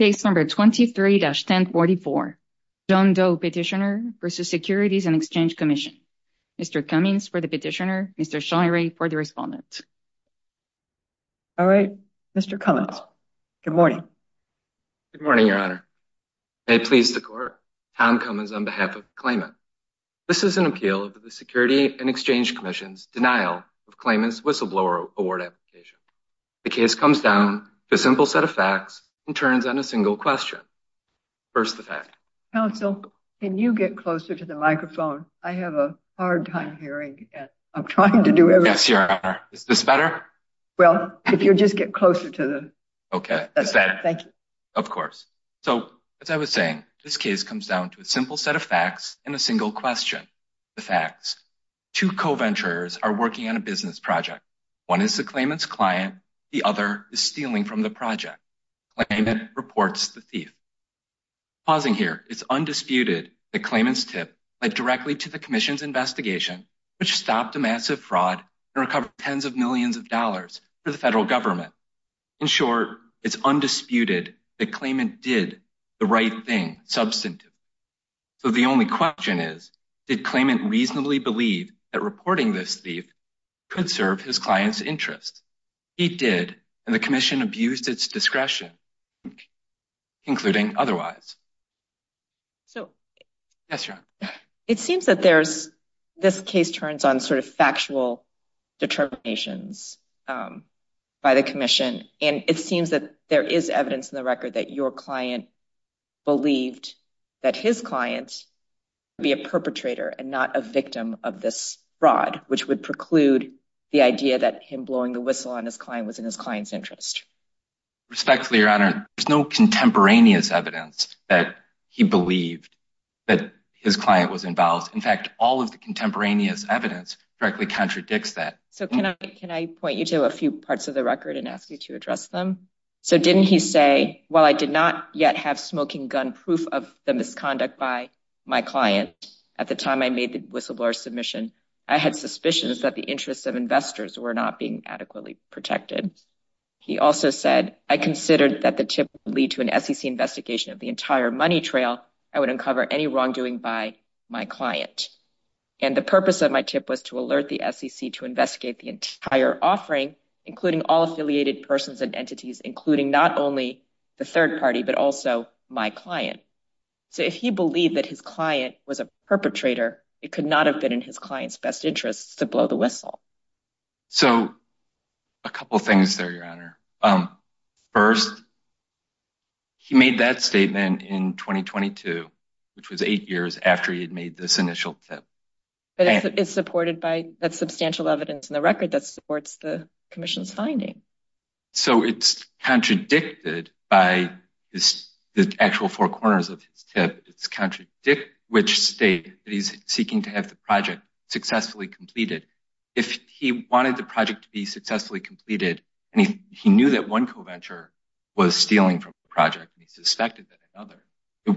23-1044 John Doe v. Securities and Exchange Commission Mr. Cummings for the petitioner, Mr. Shirey for the respondent. All right, Mr. Cummings, good morning. Good morning, Your Honor. May it please the Court, Tom Cummings on behalf of the claimant. This is an appeal of the Security and Exchange Commission's denial of claimant's whistleblower award application. The case comes down to a simple set of facts and turns on a single question. First, the fact. Counsel, can you get closer to the microphone? I have a hard time hearing. I'm trying to do everything. Yes, Your Honor. Is this better? Well, if you'll just get closer to the… Okay. Is that better? Thank you. Of course. So, as I was saying, this case comes down to a simple set of facts and a single question. The facts. Two co-venturers are working on a business project. One is the claimant's client. The other is stealing from the project. Claimant reports the thief. Pausing here. It's undisputed that claimant's tip led directly to the Commission's investigation, which stopped a massive fraud and recovered tens of millions of dollars for the federal government. In short, it's undisputed that claimant did the right thing substantively. So the only question is, did claimant reasonably believe that reporting this thief could serve his client's interests? He did, and the Commission abused its discretion, including otherwise. So… Yes, Your Honor. It seems that there's… This case turns on sort of factual determinations by the Commission, and it seems that there is evidence in the record that your client believed that his client would be a perpetrator and not a victim of this fraud, which would preclude the idea that him blowing the whistle on his client was in his client's interest. Respectfully, Your Honor, there's no contemporaneous evidence that he believed that his client was involved. In fact, all of the contemporaneous evidence directly contradicts that. So can I point you to a few parts of the record and ask you to address them? So didn't he say, while I did not yet have smoking gun proof of the misconduct by my client at the time I made the whistleblower submission, I had suspicions that the interests of investors were not being adequately protected? He also said, I considered that the tip would lead to an SEC investigation of the entire money trail. I would uncover any wrongdoing by my client. And the purpose of my tip was to alert the SEC to investigate the entire offering, including all affiliated persons and entities, including not only the third party, but also my client. So if he believed that his client was a perpetrator, it could not have been in his client's best interest to blow the whistle. So a couple of things there, Your Honor. First, he made that statement in 2022, which was eight years after he had made this initial tip. But it's supported by that substantial evidence in the record that supports the commission's finding. So it's contradicted by the actual four corners of his tip. It's contradict which state that he's seeking to have the project successfully completed. If he wanted the project to be successfully completed and he knew that one co-venture was stealing from the project, he suspected that another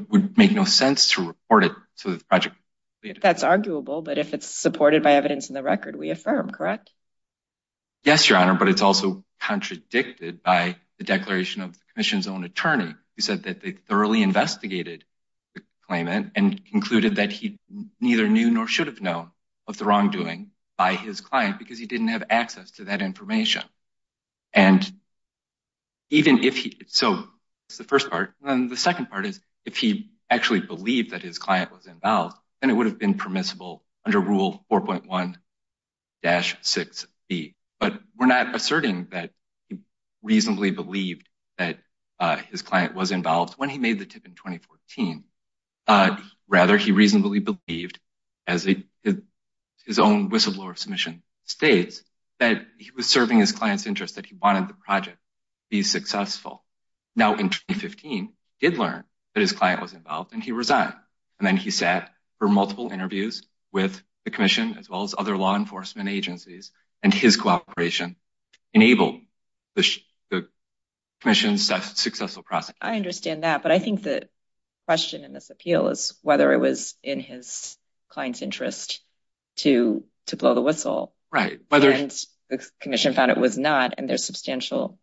would make no sense to report it to the project. That's arguable. But if it's supported by evidence in the record, we affirm. Correct. Yes, Your Honor. But it's also contradicted by the declaration of the commission's own attorney. He said that they thoroughly investigated the claimant and concluded that he neither knew nor should have known of the wrongdoing by his client because he didn't have access to that information. And. Even if so, it's the first part. And the second part is if he actually believed that his client was involved and it would have been permissible under Rule 4.1. But we're not asserting that he reasonably believed that his client was involved when he made the tip in 2014. Rather, he reasonably believed, as his own whistleblower submission states, that he was serving his client's interest, that he wanted the project to be successful. Now, in 2015, he did learn that his client was involved and he resigned. And then he sat for multiple interviews with the commission, as well as other law enforcement agencies. And his cooperation enabled the commission's successful process. I understand that. But I think the question in this appeal is whether it was in his client's interest to to blow the whistle. Right. Whether the commission found it was not and there's substantial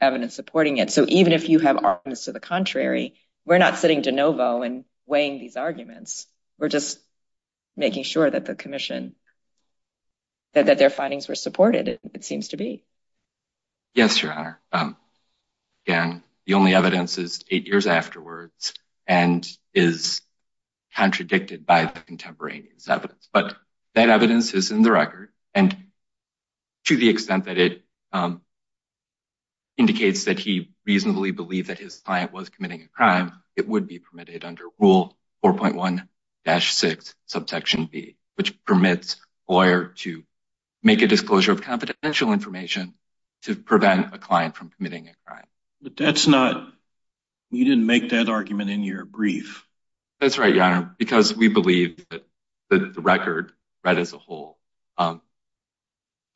evidence supporting it. So even if you have arguments to the contrary, we're not sitting de novo and weighing these arguments. We're just making sure that the commission. That their findings were supported, it seems to be. Yes, Your Honor. And the only evidence is eight years afterwards and is contradicted by the contemporaneous evidence. But that evidence is in the record. And to the extent that it indicates that he reasonably believed that his client was committing a crime, it would be permitted under Rule 4.1-6, Subsection B, which permits a lawyer to make a disclosure of confidential information to prevent a client from committing a crime. But that's not you didn't make that argument in your brief. That's right, Your Honor, because we believe that the record read as a whole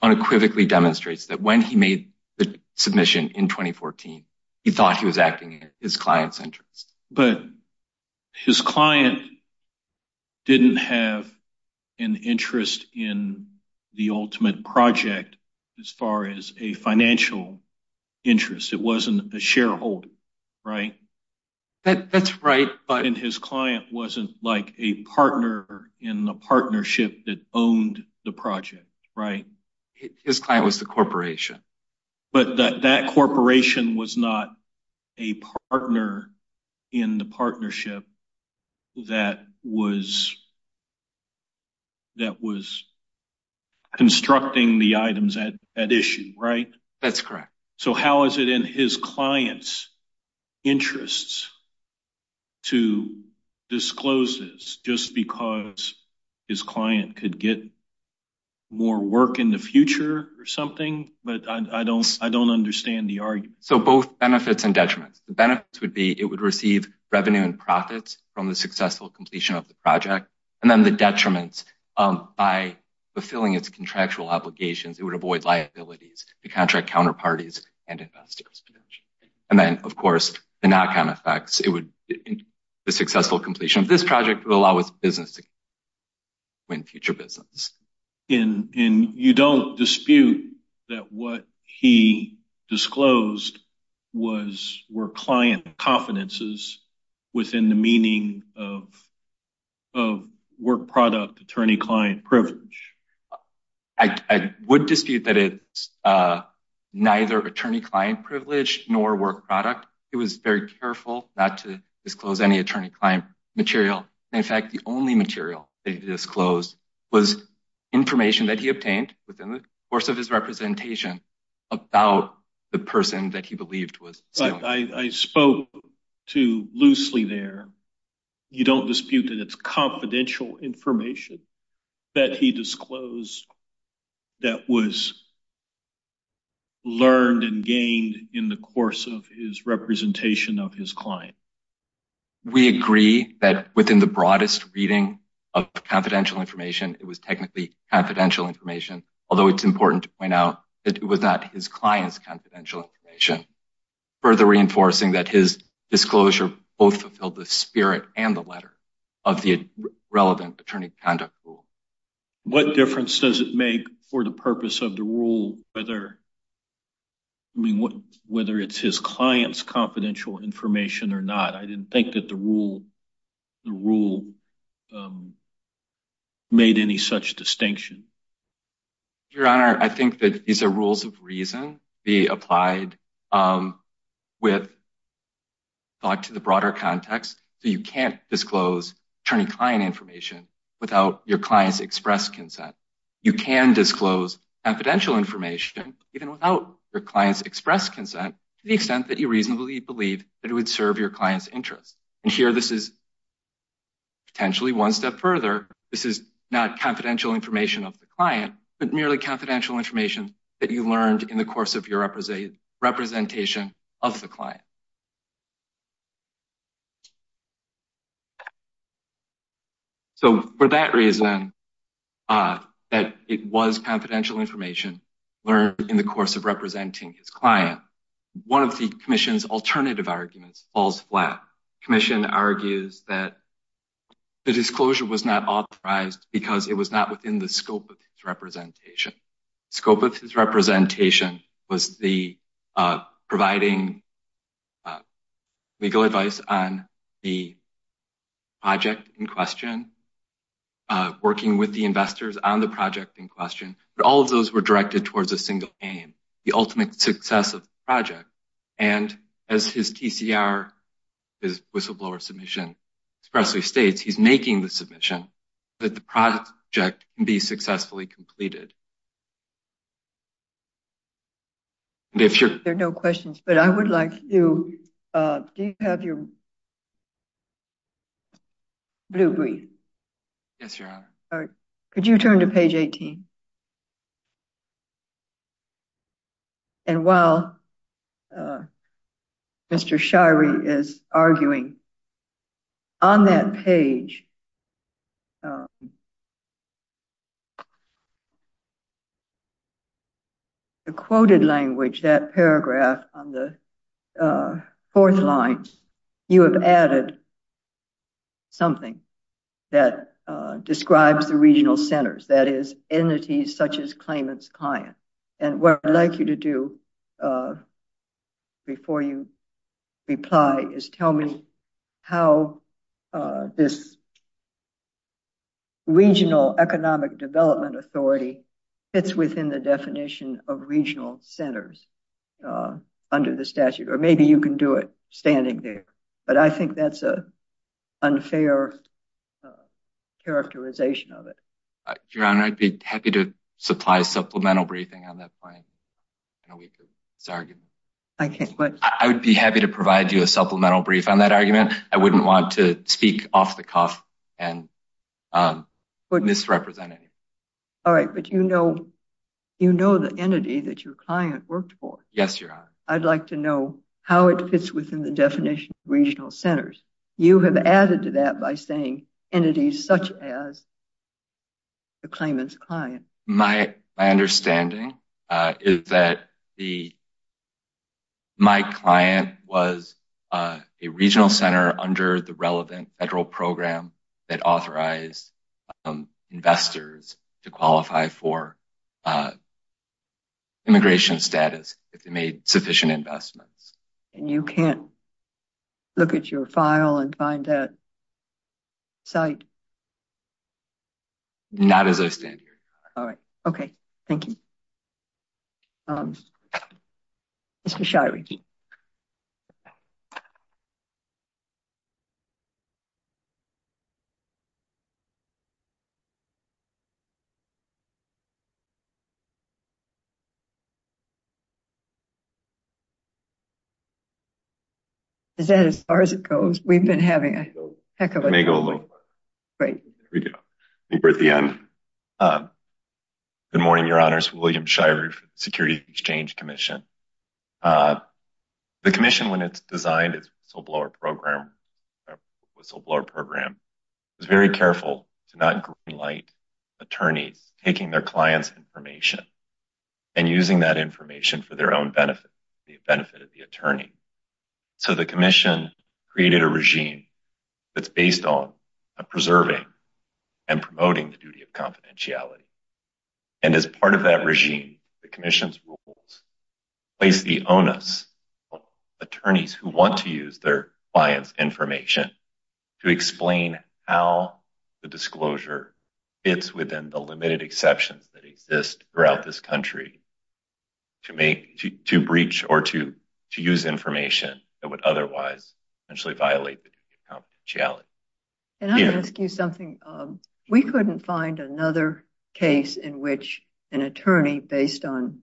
unequivocally demonstrates that when he made the submission in 2014, he thought he was acting in his client's interest. But his client didn't have an interest in the ultimate project as far as a financial interest. It wasn't a shareholder, right? That's right. But his client wasn't like a partner in the partnership that owned the project, right? His client was the corporation. But that corporation was not a partner in the partnership that was constructing the items at issue, right? That's correct. So how is it in his client's interests to disclose this just because his client could get more work in the future or something? But I don't understand the argument. So both benefits and detriments. The benefits would be it would receive revenue and profits from the successful completion of the project. And then the detriments, by fulfilling its contractual obligations, it would avoid liabilities to contract counterparties and investors. And then, of course, the knock-on effects, the successful completion of this project would allow its business to win future business. And you don't dispute that what he disclosed were client confidences within the meaning of work product, attorney-client privilege? I would dispute that it's neither attorney-client privilege nor work product. He was very careful not to disclose any attorney-client material. In fact, the only material that he disclosed was information that he obtained within the course of his representation about the person that he believed was stealing. I spoke too loosely there. You don't dispute that it's confidential information that he disclosed that was learned and gained in the course of his representation of his client? We agree that within the broadest reading of confidential information, it was technically confidential information, although it's important to point out that it was not his client's confidential information. Further reinforcing that his disclosure both fulfilled the spirit and the letter of the relevant attorney conduct rule. What difference does it make for the purpose of the rule, whether it's his client's confidential information or not? I didn't think that the rule made any such distinction. Your Honor, I think that these are rules of reason being applied with thought to the broader context. You can't disclose attorney-client information without your client's express consent. You can disclose confidential information even without your client's express consent to the extent that you reasonably believe that it would serve your client's interest. Here, this is potentially one step further. This is not confidential information of the client, but merely confidential information that you learned in the course of your representation of the client. For that reason, that it was confidential information learned in the course of representing his client, one of the Commission's alternative arguments falls flat. The Commission argues that the disclosure was not authorized because it was not within the scope of his representation. The scope of his representation was providing legal advice on the project in question, working with the investors on the project in question. But all of those were directed towards a single aim, the ultimate success of the project. And as his TCR, his whistleblower submission, expressly states, he's making the submission that the project can be successfully completed. There are no questions, but I would like you, do you have your blue brief? Yes, Your Honor. Could you turn to page 18? And while Mr. Shirey is arguing, on that page, the quoted language, that paragraph on the fourth line, you have added something that describes the regional centers. That is, entities such as claimant's client. And what I'd like you to do before you reply is tell me how this regional economic development authority fits within the definition of regional centers under the statute. Or maybe you can do it standing there. But I think that's an unfair characterization of it. Your Honor, I'd be happy to supply supplemental briefing on that point in a week of this argument. I would be happy to provide you a supplemental brief on that argument. I wouldn't want to speak off the cuff and misrepresent it. All right. But you know the entity that your client worked for. Yes, Your Honor. I'd like to know how it fits within the definition of regional centers. You have added to that by saying entities such as the claimant's client. My understanding is that my client was a regional center under the relevant federal program that authorized investors to qualify for immigration status if they made sufficient investments. And you can't look at your file and find that site? Not as I stand here. All right. Okay. Thank you. Mr. Shirey. Is that as far as it goes? It may go a little further. Great. There we go. I think we're at the end. Good morning, Your Honors. William Shirey for the Security Exchange Commission. The commission, when it's designed its whistleblower program, was very careful to not greenlight attorneys taking their clients' information and using that information for their own benefit, the benefit of the attorney. So the commission created a regime that's based on preserving and promoting the duty of confidentiality. And as part of that regime, the commission's rules place the onus on attorneys who want to use their client's information to explain how the disclosure fits within the limited exceptions that exist throughout this country to breach or to use information that would otherwise potentially violate the duty of confidentiality. Can I ask you something? We couldn't find another case in which an attorney, based on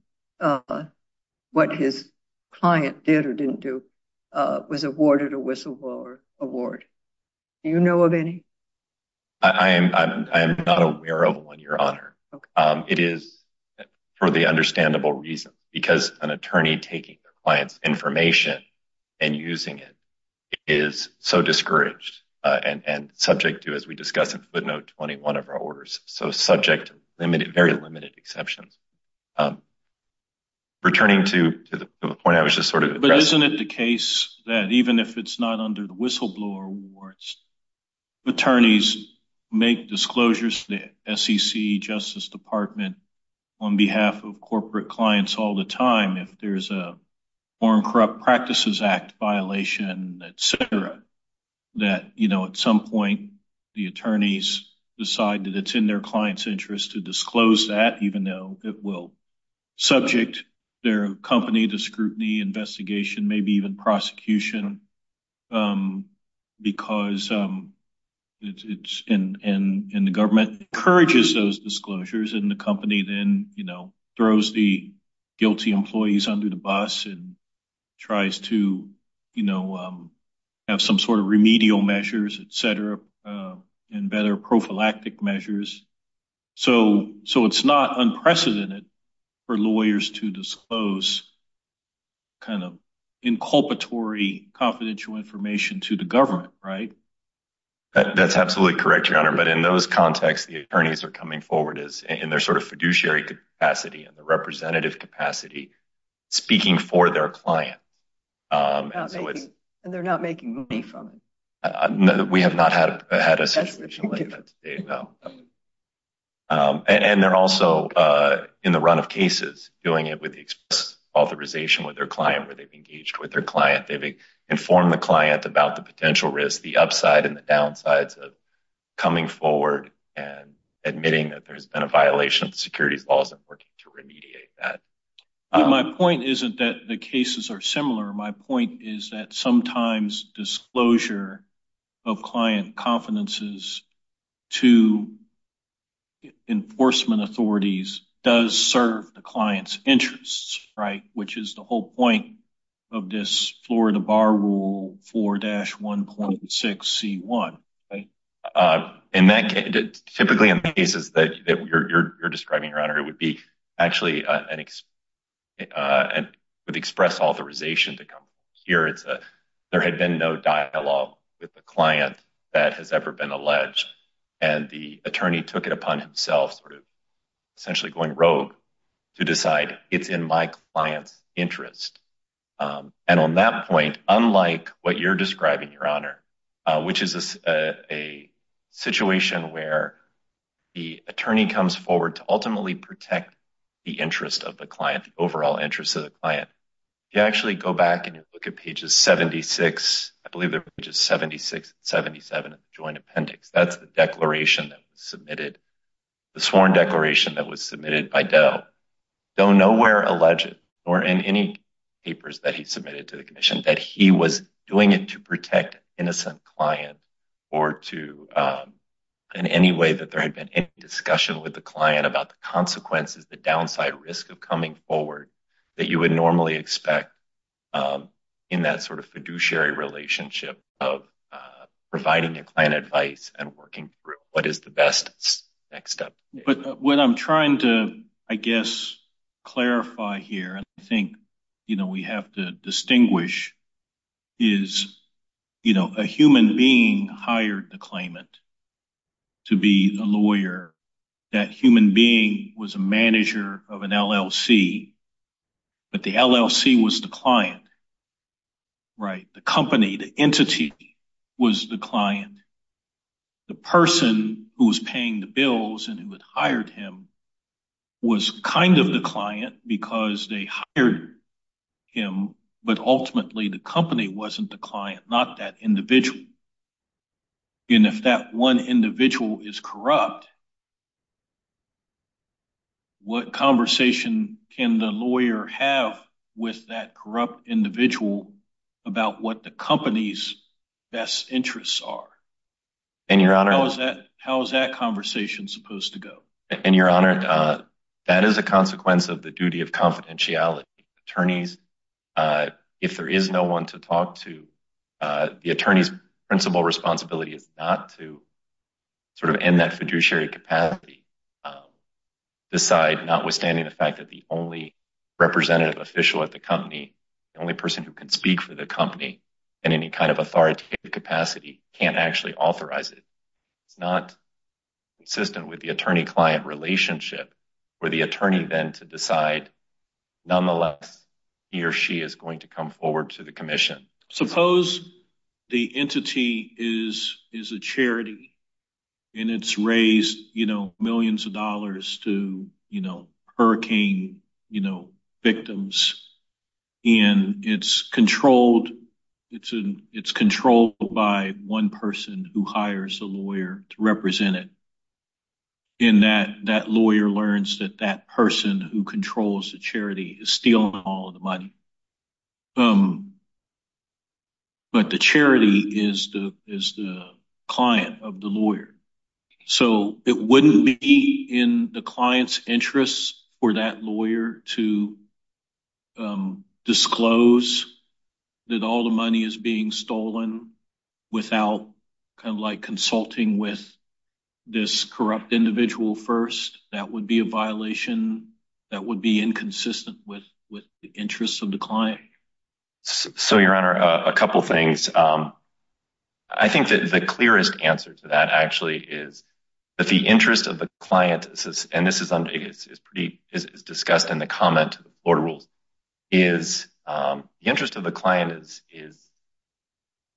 what his client did or didn't do, was awarded a whistleblower award. Do you know of any? I am not aware of one, Your Honor. It is for the understandable reason, because an attorney taking their client's information and using it is so discouraged and subject to, as we discussed in footnote 21 of our orders, so subject to very limited exceptions. Returning to the point I was just sort of addressing. Isn't it the case that even if it's not under the whistleblower awards, attorneys make disclosures to the SEC, Justice Department, on behalf of corporate clients all the time? If there's a Foreign Corrupt Practices Act violation, et cetera, that, you know, at some point the attorneys decide that it's in their client's interest to disclose that, even though it will subject their company to scrutiny, investigation, maybe even prosecution, because it's in the government, encourages those disclosures, and the company then, you know, throws the guilty employees under the bus and tries to, you know, have some sort of remedial measures, et cetera, and better prophylactic measures. So it's not unprecedented for lawyers to disclose kind of inculpatory confidential information to the government, right? That's absolutely correct, Your Honor. But in those contexts, the attorneys are coming forward in their sort of fiduciary capacity and the representative capacity speaking for their client. And they're not making money from it. We have not had a situation like that today, no. And they're also in the run of cases, doing it with the express authorization with their client, where they've engaged with their client, they've informed the client about the potential risk, the upside and the downsides of coming forward and admitting that there's been a violation of the securities laws and working to remediate that. My point isn't that the cases are similar. My point is that sometimes disclosure of client confidences to enforcement authorities does serve the client's interests, right, which is the whole point of this Florida Bar Rule 4-1.6C1, right? Typically in cases that you're describing, Your Honor, it would be actually with express authorization to come here. There had been no dialogue with the client that has ever been alleged, and the attorney took it upon himself, sort of essentially going rogue, to decide it's in my client's interest. And on that point, unlike what you're describing, Your Honor, which is a situation where the attorney comes forward to ultimately protect the interest of the client, the overall interest of the client, you actually go back and you look at pages 76, I believe they're pages 76 and 77 of the Joint Appendix. That's the declaration that was submitted, the sworn declaration that was submitted by DOE. DOE nowhere alleged, nor in any papers that he submitted to the commission, that he was doing it to protect an innocent client or in any way that there had been any discussion with the client about the consequences, the downside risk of coming forward that you would normally expect in that sort of fiduciary relationship of providing the client advice and working through what is the best next step. But what I'm trying to, I guess, clarify here, and I think we have to distinguish, is a human being hired the claimant to be a lawyer. That human being was a manager of an LLC, but the LLC was the client, right? The company, the entity was the client. The person who was paying the bills and who had hired him was kind of the client because they hired him, but ultimately the company wasn't the client, not that individual. And if that one individual is corrupt, what conversation can the lawyer have with that corrupt individual about what the company's best interests are? How is that conversation supposed to go? Your Honor, that is a consequence of the duty of confidentiality. If there is no one to talk to, the attorney's principal responsibility is not to sort of in that fiduciary capacity decide, notwithstanding the fact that the only representative official at the company, the only person who can speak for the company in any kind of authoritative capacity can't actually authorize it. It's not consistent with the attorney-client relationship for the attorney then to decide, nonetheless, he or she is going to come forward to the commission. Suppose the entity is a charity and it's raised millions of dollars to hurricane victims, and it's controlled by one person who hires a lawyer to represent it. And that lawyer learns that that person who controls the charity is stealing all of the money. But the charity is the client of the lawyer. So it wouldn't be in the client's interests for that lawyer to disclose that all the money is being stolen without kind of like consulting with this corrupt individual first. That would be a violation that would be inconsistent with the interests of the client. So, Your Honor, a couple of things. I think that the clearest answer to that actually is that the interest of the client, and this is discussed in the comment to the Florida Rules, is the interest of the client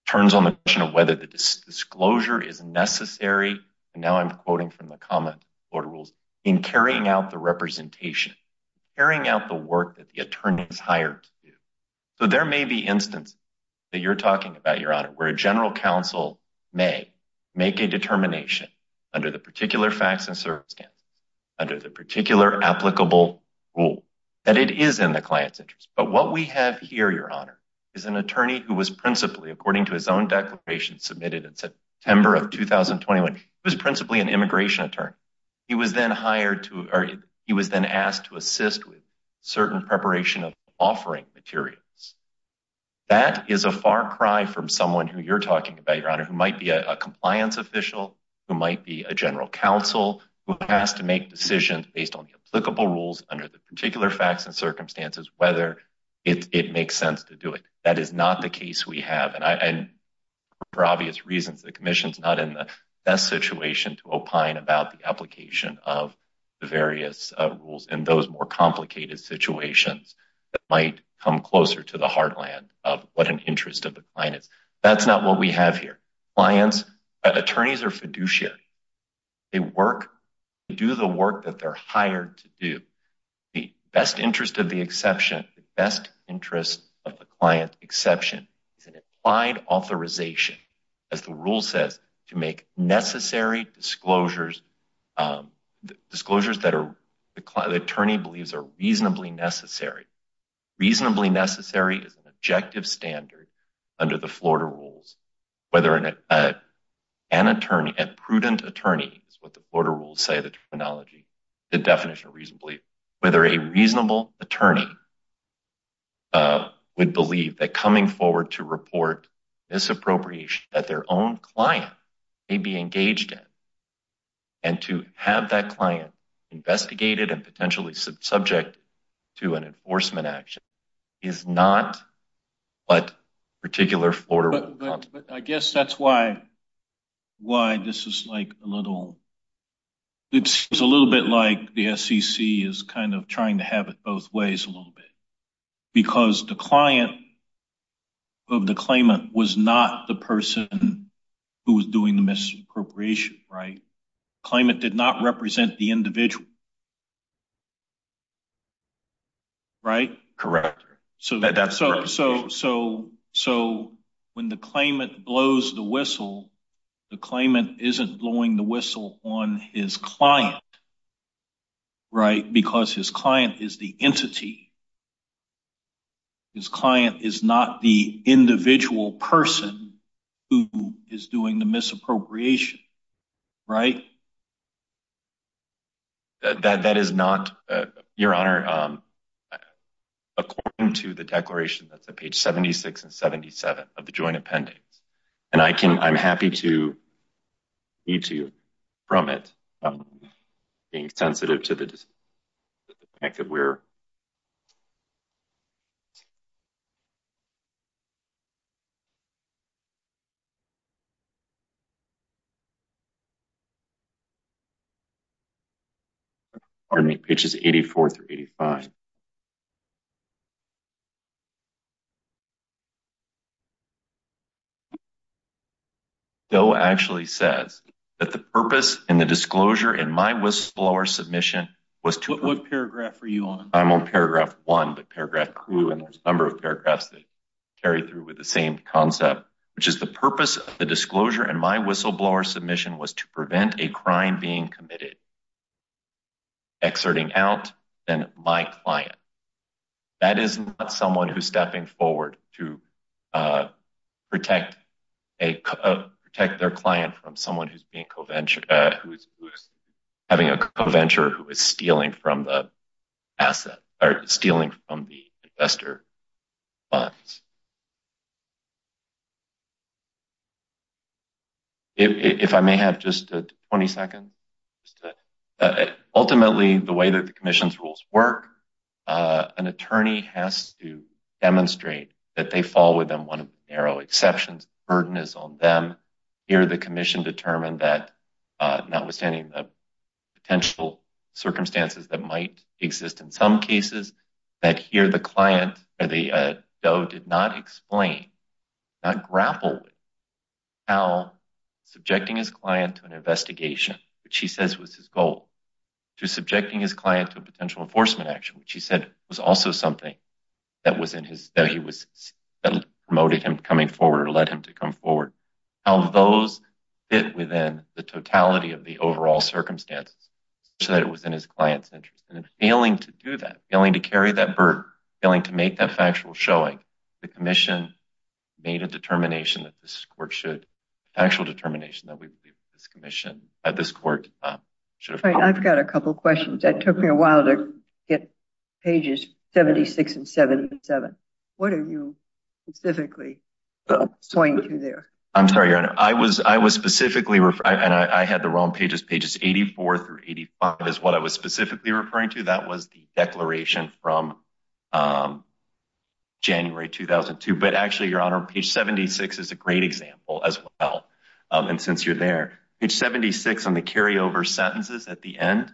turns on the question of whether the disclosure is necessary, and now I'm quoting from the comment to the Florida Rules, in carrying out the representation, carrying out the work that the attorney is hired to do. So there may be instances that you're talking about, Your Honor, where a general counsel may make a determination under the particular facts and circumstances, under the particular applicable rule, that it is in the client's interest. But what we have here, Your Honor, is an attorney who was principally, according to his own declaration submitted in September of 2021, he was principally an immigration attorney. He was then hired to, or he was then asked to assist with certain preparation of offering materials. That is a far cry from someone who you're talking about, Your Honor, who might be a compliance official, who might be a general counsel, who has to make decisions based on the applicable rules under the particular facts and circumstances, whether it makes sense to do it. That is not the case we have, and for obvious reasons, the Commission's not in the best situation to opine about the application of the various rules in those more complicated situations that might come closer to the heartland of what an interest of the client is. That's not what we have here. Clients, attorneys are fiduciary. They work to do the work that they're hired to do. The best interest of the client exception is an implied authorization, as the rule says, to make necessary disclosures, disclosures that the attorney believes are reasonably necessary. Reasonably necessary is an objective standard under the Florida rules. Whether an attorney, a prudent attorney, is what the Florida rules say, the terminology, the definition of reasonably, whether a reasonable attorney would believe that coming forward to report misappropriation that their own client may be engaged in, and to have that client investigated and potentially subject to an enforcement action, is not what particular Florida rules. But I guess that's why this is like a little, it's a little bit like the SEC is kind of trying to have it both ways a little bit, because the client of the claimant was not the person who was doing the misappropriation, right? The claimant did not represent the individual, right? Correct. So when the claimant blows the whistle, the claimant isn't blowing the whistle on his client, right? Because his client is the entity. His client is not the individual person who is doing the misappropriation, right? That is not, Your Honor, according to the declaration that's at page 76 and 77 of the joint appendix. And I'm happy to read to you from it, being sensitive to the fact that we're Pardon me. Pitch is 84 through 85. DOE actually says that the purpose and the disclosure in my whistleblower submission was to What paragraph are you on? I'm on paragraph one, but paragraph two, and there's a number of paragraphs that carry through with the same concept, which is the purpose of the disclosure. And my whistleblower submission was to prevent a crime being committed, exerting out than my client. That is not someone who's stepping forward to protect their client from someone who's having a co-venture, who is stealing from the asset or stealing from the investor funds. If I may have just 20 seconds, ultimately, the way that the commission's rules work, an attorney has to demonstrate that they fall within one of the narrow exceptions. The burden is on them. Here, the commission determined that notwithstanding the potential circumstances that might exist in some cases, that here the client or the DOE did not explain, not grapple with, how subjecting his client to an investigation, which he says was his goal, to subjecting his client to a potential enforcement action, which he said was also something that was in his, that he was, that promoted him coming forward or led him to come forward, how those fit within the totality of the overall circumstances, so that it was in his client's interest. And in failing to do that, failing to carry that burden, failing to make that factual showing, the commission made a determination that this court should, an actual determination that we believe this commission at this court should have followed. I've got a couple questions. That took me a while to get pages 76 and 77. What are you specifically pointing to there? I'm sorry, Your Honor. I was specifically, and I had the wrong pages, pages 84 through 85 is what I was specifically referring to. That was the declaration from January 2002. But actually, Your Honor, page 76 is a great example as well. And since you're there, page 76 on the carryover sentences at the end,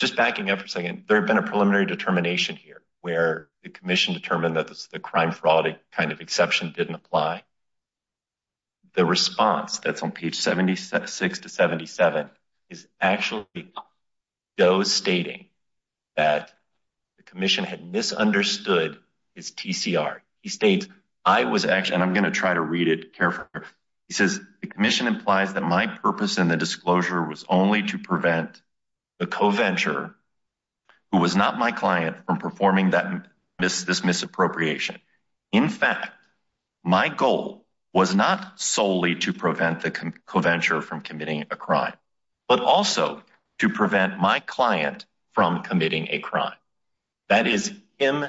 just backing up for a second, there had been a preliminary determination here where the commission determined that the crime fraud kind of exception didn't apply. The response that's on page 76 to 77 is actually Joe stating that the commission had misunderstood his TCR. He states, I was actually, and I'm going to try to read it carefully. He says, the commission implies that my purpose in the disclosure was only to prevent the co-venture, who was not my client, from performing this misappropriation. In fact, my goal was not solely to prevent the co-venture from committing a crime, but also to prevent my client from committing a crime. That is him,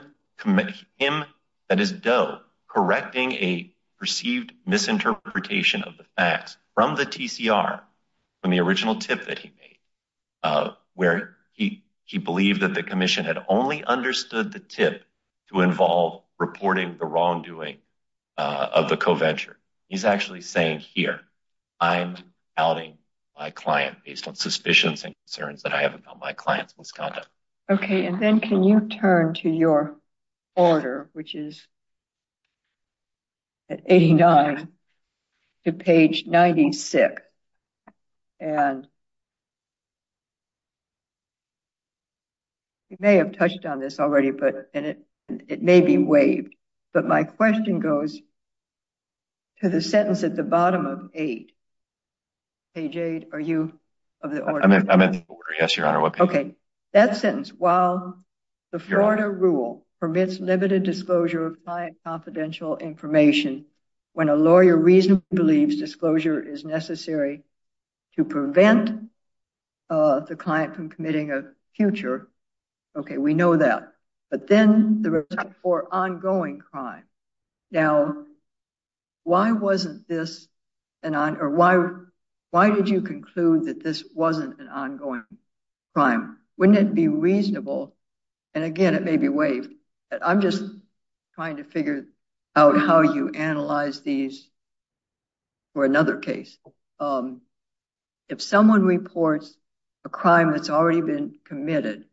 that is Doe, correcting a perceived misinterpretation of the facts from the TCR, from the original tip that he made, where he believed that the commission had only understood the tip to involve reporting the wrongdoing of the co-venture. He's actually saying here, I'm outing my client based on suspicions and concerns that I have about my client's misconduct. Okay, and then can you turn to your order, which is at 89 to page 96? And you may have touched on this already, but it may be waived. But my question goes to the sentence at the bottom of 8. Page 8, are you of the order? I'm in the order, yes, Your Honor. Okay, that sentence, while the Florida rule permits limited disclosure of client confidential information, when a lawyer reasonably believes disclosure is necessary to prevent the client from committing a future, okay, we know that, but then the result for ongoing crime. Now, why did you conclude that this wasn't an ongoing crime? Wouldn't it be reasonable? And again, it may be waived. I'm just trying to figure out how you analyze these for another case. If someone reports a crime that's already been committed,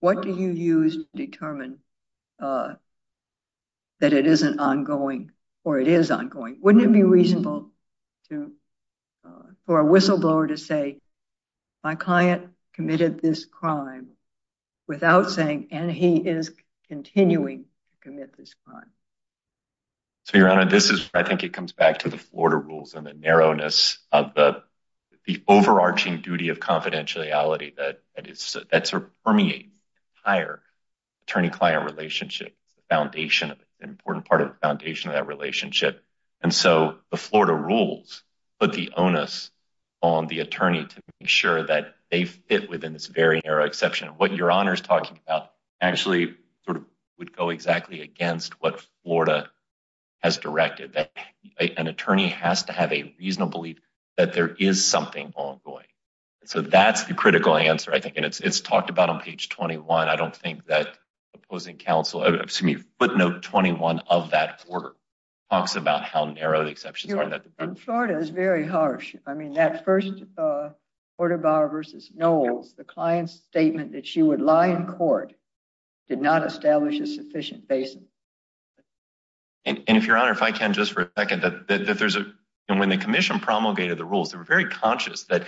what do you use to determine that it isn't ongoing or it is ongoing? Wouldn't it be reasonable for a whistleblower to say, my client committed this crime without saying, and he is continuing to commit this crime? So, Your Honor, I think it comes back to the Florida rules and the narrowness of the overarching duty of confidentiality that permeates the entire attorney-client relationship. It's an important part of the foundation of that relationship. And so the Florida rules put the onus on the attorney to make sure that they fit within this very narrow exception. What Your Honor is talking about actually sort of would go exactly against what Florida has directed. An attorney has to have a reasonable belief that there is something ongoing. So that's the critical answer, I think, and it's talked about on page 21. I don't think that opposing counsel, excuse me, footnote 21 of that order talks about how narrow the exceptions are in that department. And Florida is very harsh. I mean, that first quarter bar versus Knowles, the client's statement that she would lie in court did not establish a sufficient basis. And if Your Honor, if I can just for a second, that there's a when the commission promulgated the rules, they were very conscious that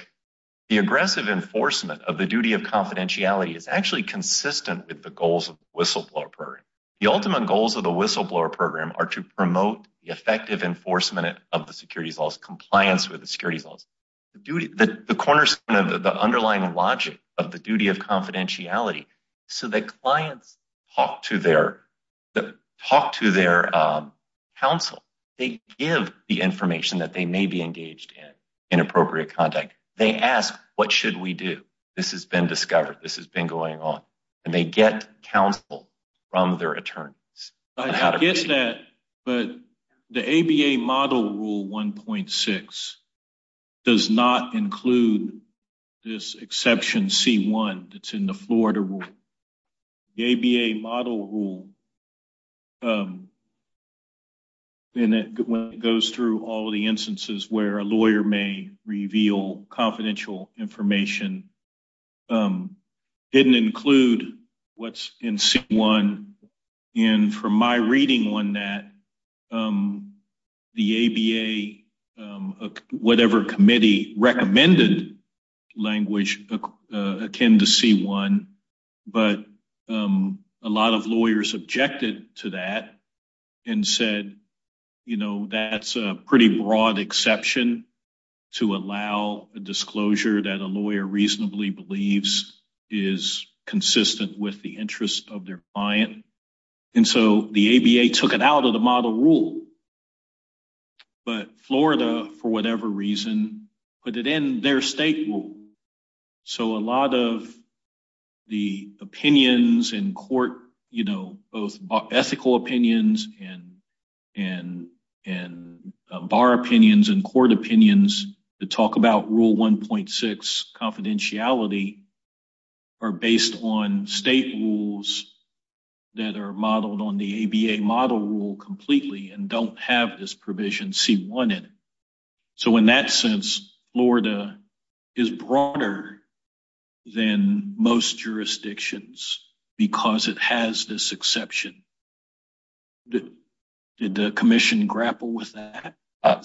the aggressive enforcement of the duty of confidentiality is actually consistent with the goals of whistleblower program. The ultimate goals of the whistleblower program are to promote the effective enforcement of the securities laws, compliance with the securities laws. The cornerstone of the underlying logic of the duty of confidentiality. So the clients talk to their talk to their counsel. They give the information that they may be engaged in inappropriate contact. They ask, what should we do? This has been discovered. This has been going on and they get counsel from their attorneys. I guess that. But the ABA model rule one point six does not include this exception. See one that's in the Florida rule. The ABA model rule. And it goes through all of the instances where a lawyer may reveal confidential information. Didn't include what's in C1. And from my reading on that, the ABA, whatever committee recommended language akin to C1. But a lot of lawyers objected to that and said, you know, that's a pretty broad exception to allow a disclosure that a lawyer reasonably believes is consistent with the interest of their client. And so the ABA took it out of the model rule. But Florida, for whatever reason, put it in their state. So a lot of the opinions in court, you know, both ethical opinions and and and bar opinions and court opinions to talk about rule one point six confidentiality. Are based on state rules that are modeled on the ABA model rule completely and don't have this provision C1 in it. So in that sense, Florida is broader than most jurisdictions because it has this exception. Did the commission grapple with that?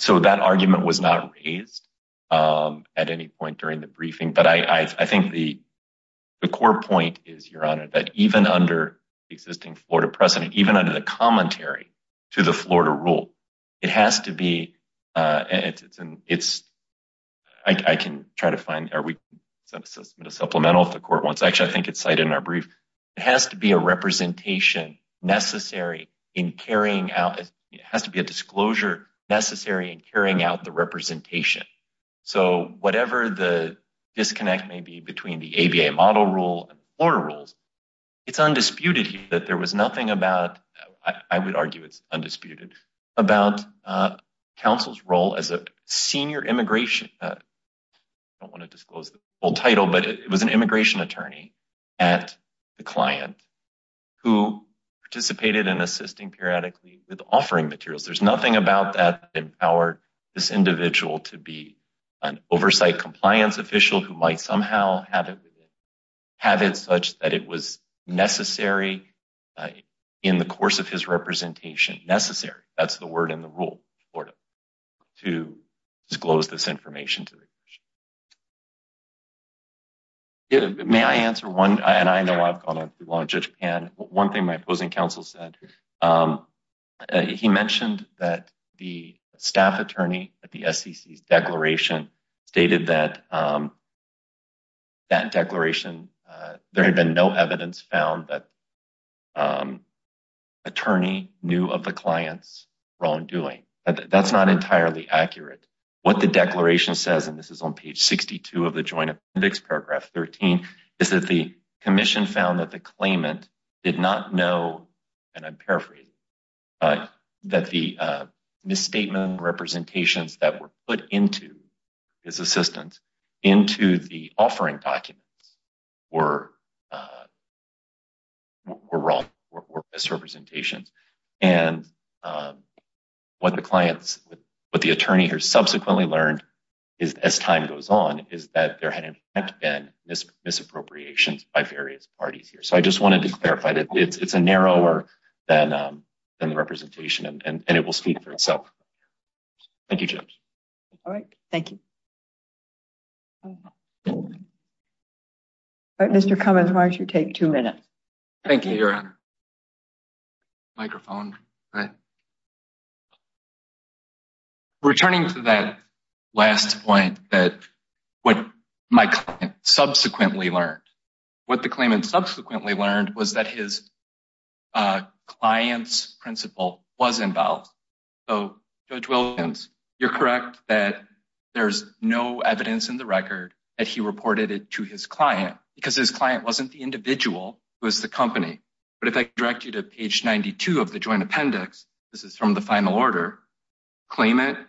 So that argument was not raised at any point during the briefing. But I think the the core point is, Your Honor, that even under existing Florida precedent, even under the commentary to the Florida rule, it has to be. It's it's I can try to find. Are we going to supplemental if the court wants? Actually, I think it's cited in our brief. It has to be a representation necessary in carrying out. It has to be a disclosure necessary in carrying out the representation. So whatever the disconnect may be between the ABA model rule or rules. It's undisputed that there was nothing about I would argue it's undisputed about counsel's role as a senior immigration. I don't want to disclose the full title, but it was an immigration attorney at the client who participated in assisting periodically with offering materials. There's nothing about that empowered this individual to be an oversight compliance official who might somehow have it have it such that it was necessary in the course of his representation. Necessary. That's the word in the rule or to disclose this information to. May I answer one? And I know I've gone on to launch Japan. One thing my opposing counsel said, he mentioned that the staff attorney at the SEC declaration stated that. That declaration, there had been no evidence found that attorney knew of the clients wrongdoing. That's not entirely accurate. What the declaration says, and this is on page 62 of the joint paragraph 13 is that the commission found that the claimant did not know. And I'm paraphrasing that the misstatement representations that were put into. His assistance into the offering documents were. We're wrong or misrepresentations and. What the clients with the attorney here subsequently learned. Is as time goes on, is that there had been misappropriation by various parties here. So I just wanted to clarify that it's a narrower than the representation and it will speak for itself. Thank you, Jim. All right. Thank you. Mr. Cummins, why don't you take two minutes? Thank you. Microphone. Returning to that last point that what my client subsequently learned what the claimant subsequently learned was that his. Clients principle was involved. So, you're correct that there's no evidence in the record that he reported it to his client because his client wasn't the individual was the company. But if I direct you to page 92 of the joint appendix, this is from the final order. Claimant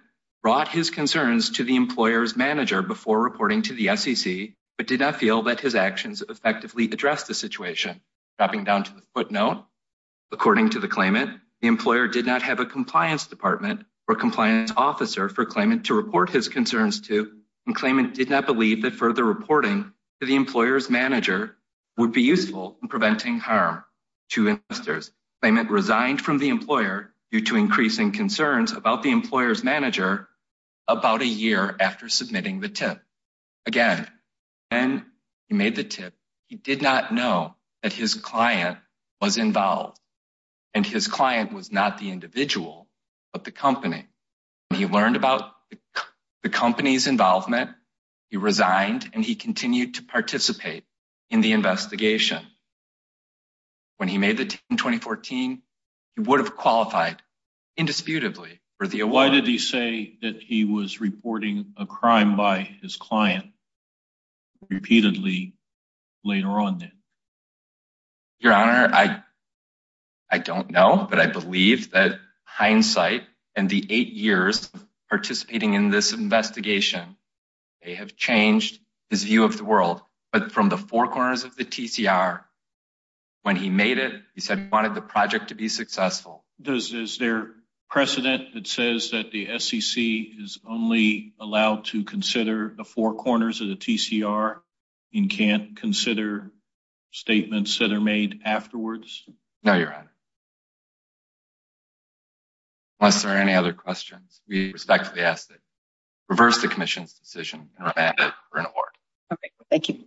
brought his concerns to the employer's manager before reporting to the, but did not feel that his actions effectively address the situation. Dropping down to the footnote, according to the claimant, the employer did not have a compliance department or compliance officer for claimant to report his concerns to. And claimant did not believe that further reporting to the employer's manager would be useful in preventing harm. To investors, claimant resigned from the employer due to increasing concerns about the employer's manager about a year after submitting the tip. Again, and he made the tip. He did not know that his client was involved. And his client was not the individual, but the company. He learned about the company's involvement. He resigned and he continued to participate in the investigation. When he made the 2014, he would have qualified indisputably for the. Why did he say that he was reporting a crime by his client? Repeatedly later on. Your honor, I. I don't know, but I believe that hindsight and the 8 years participating in this investigation. They have changed his view of the world, but from the 4 corners of the. When he made it, he said he wanted the project to be successful. Does is there precedent that says that the is only allowed to consider the 4 corners of the. You can't consider statements that are made afterwards. No, your honor. Unless there are any other questions, we respectfully ask that reverse the commission's decision for an award. Thank you.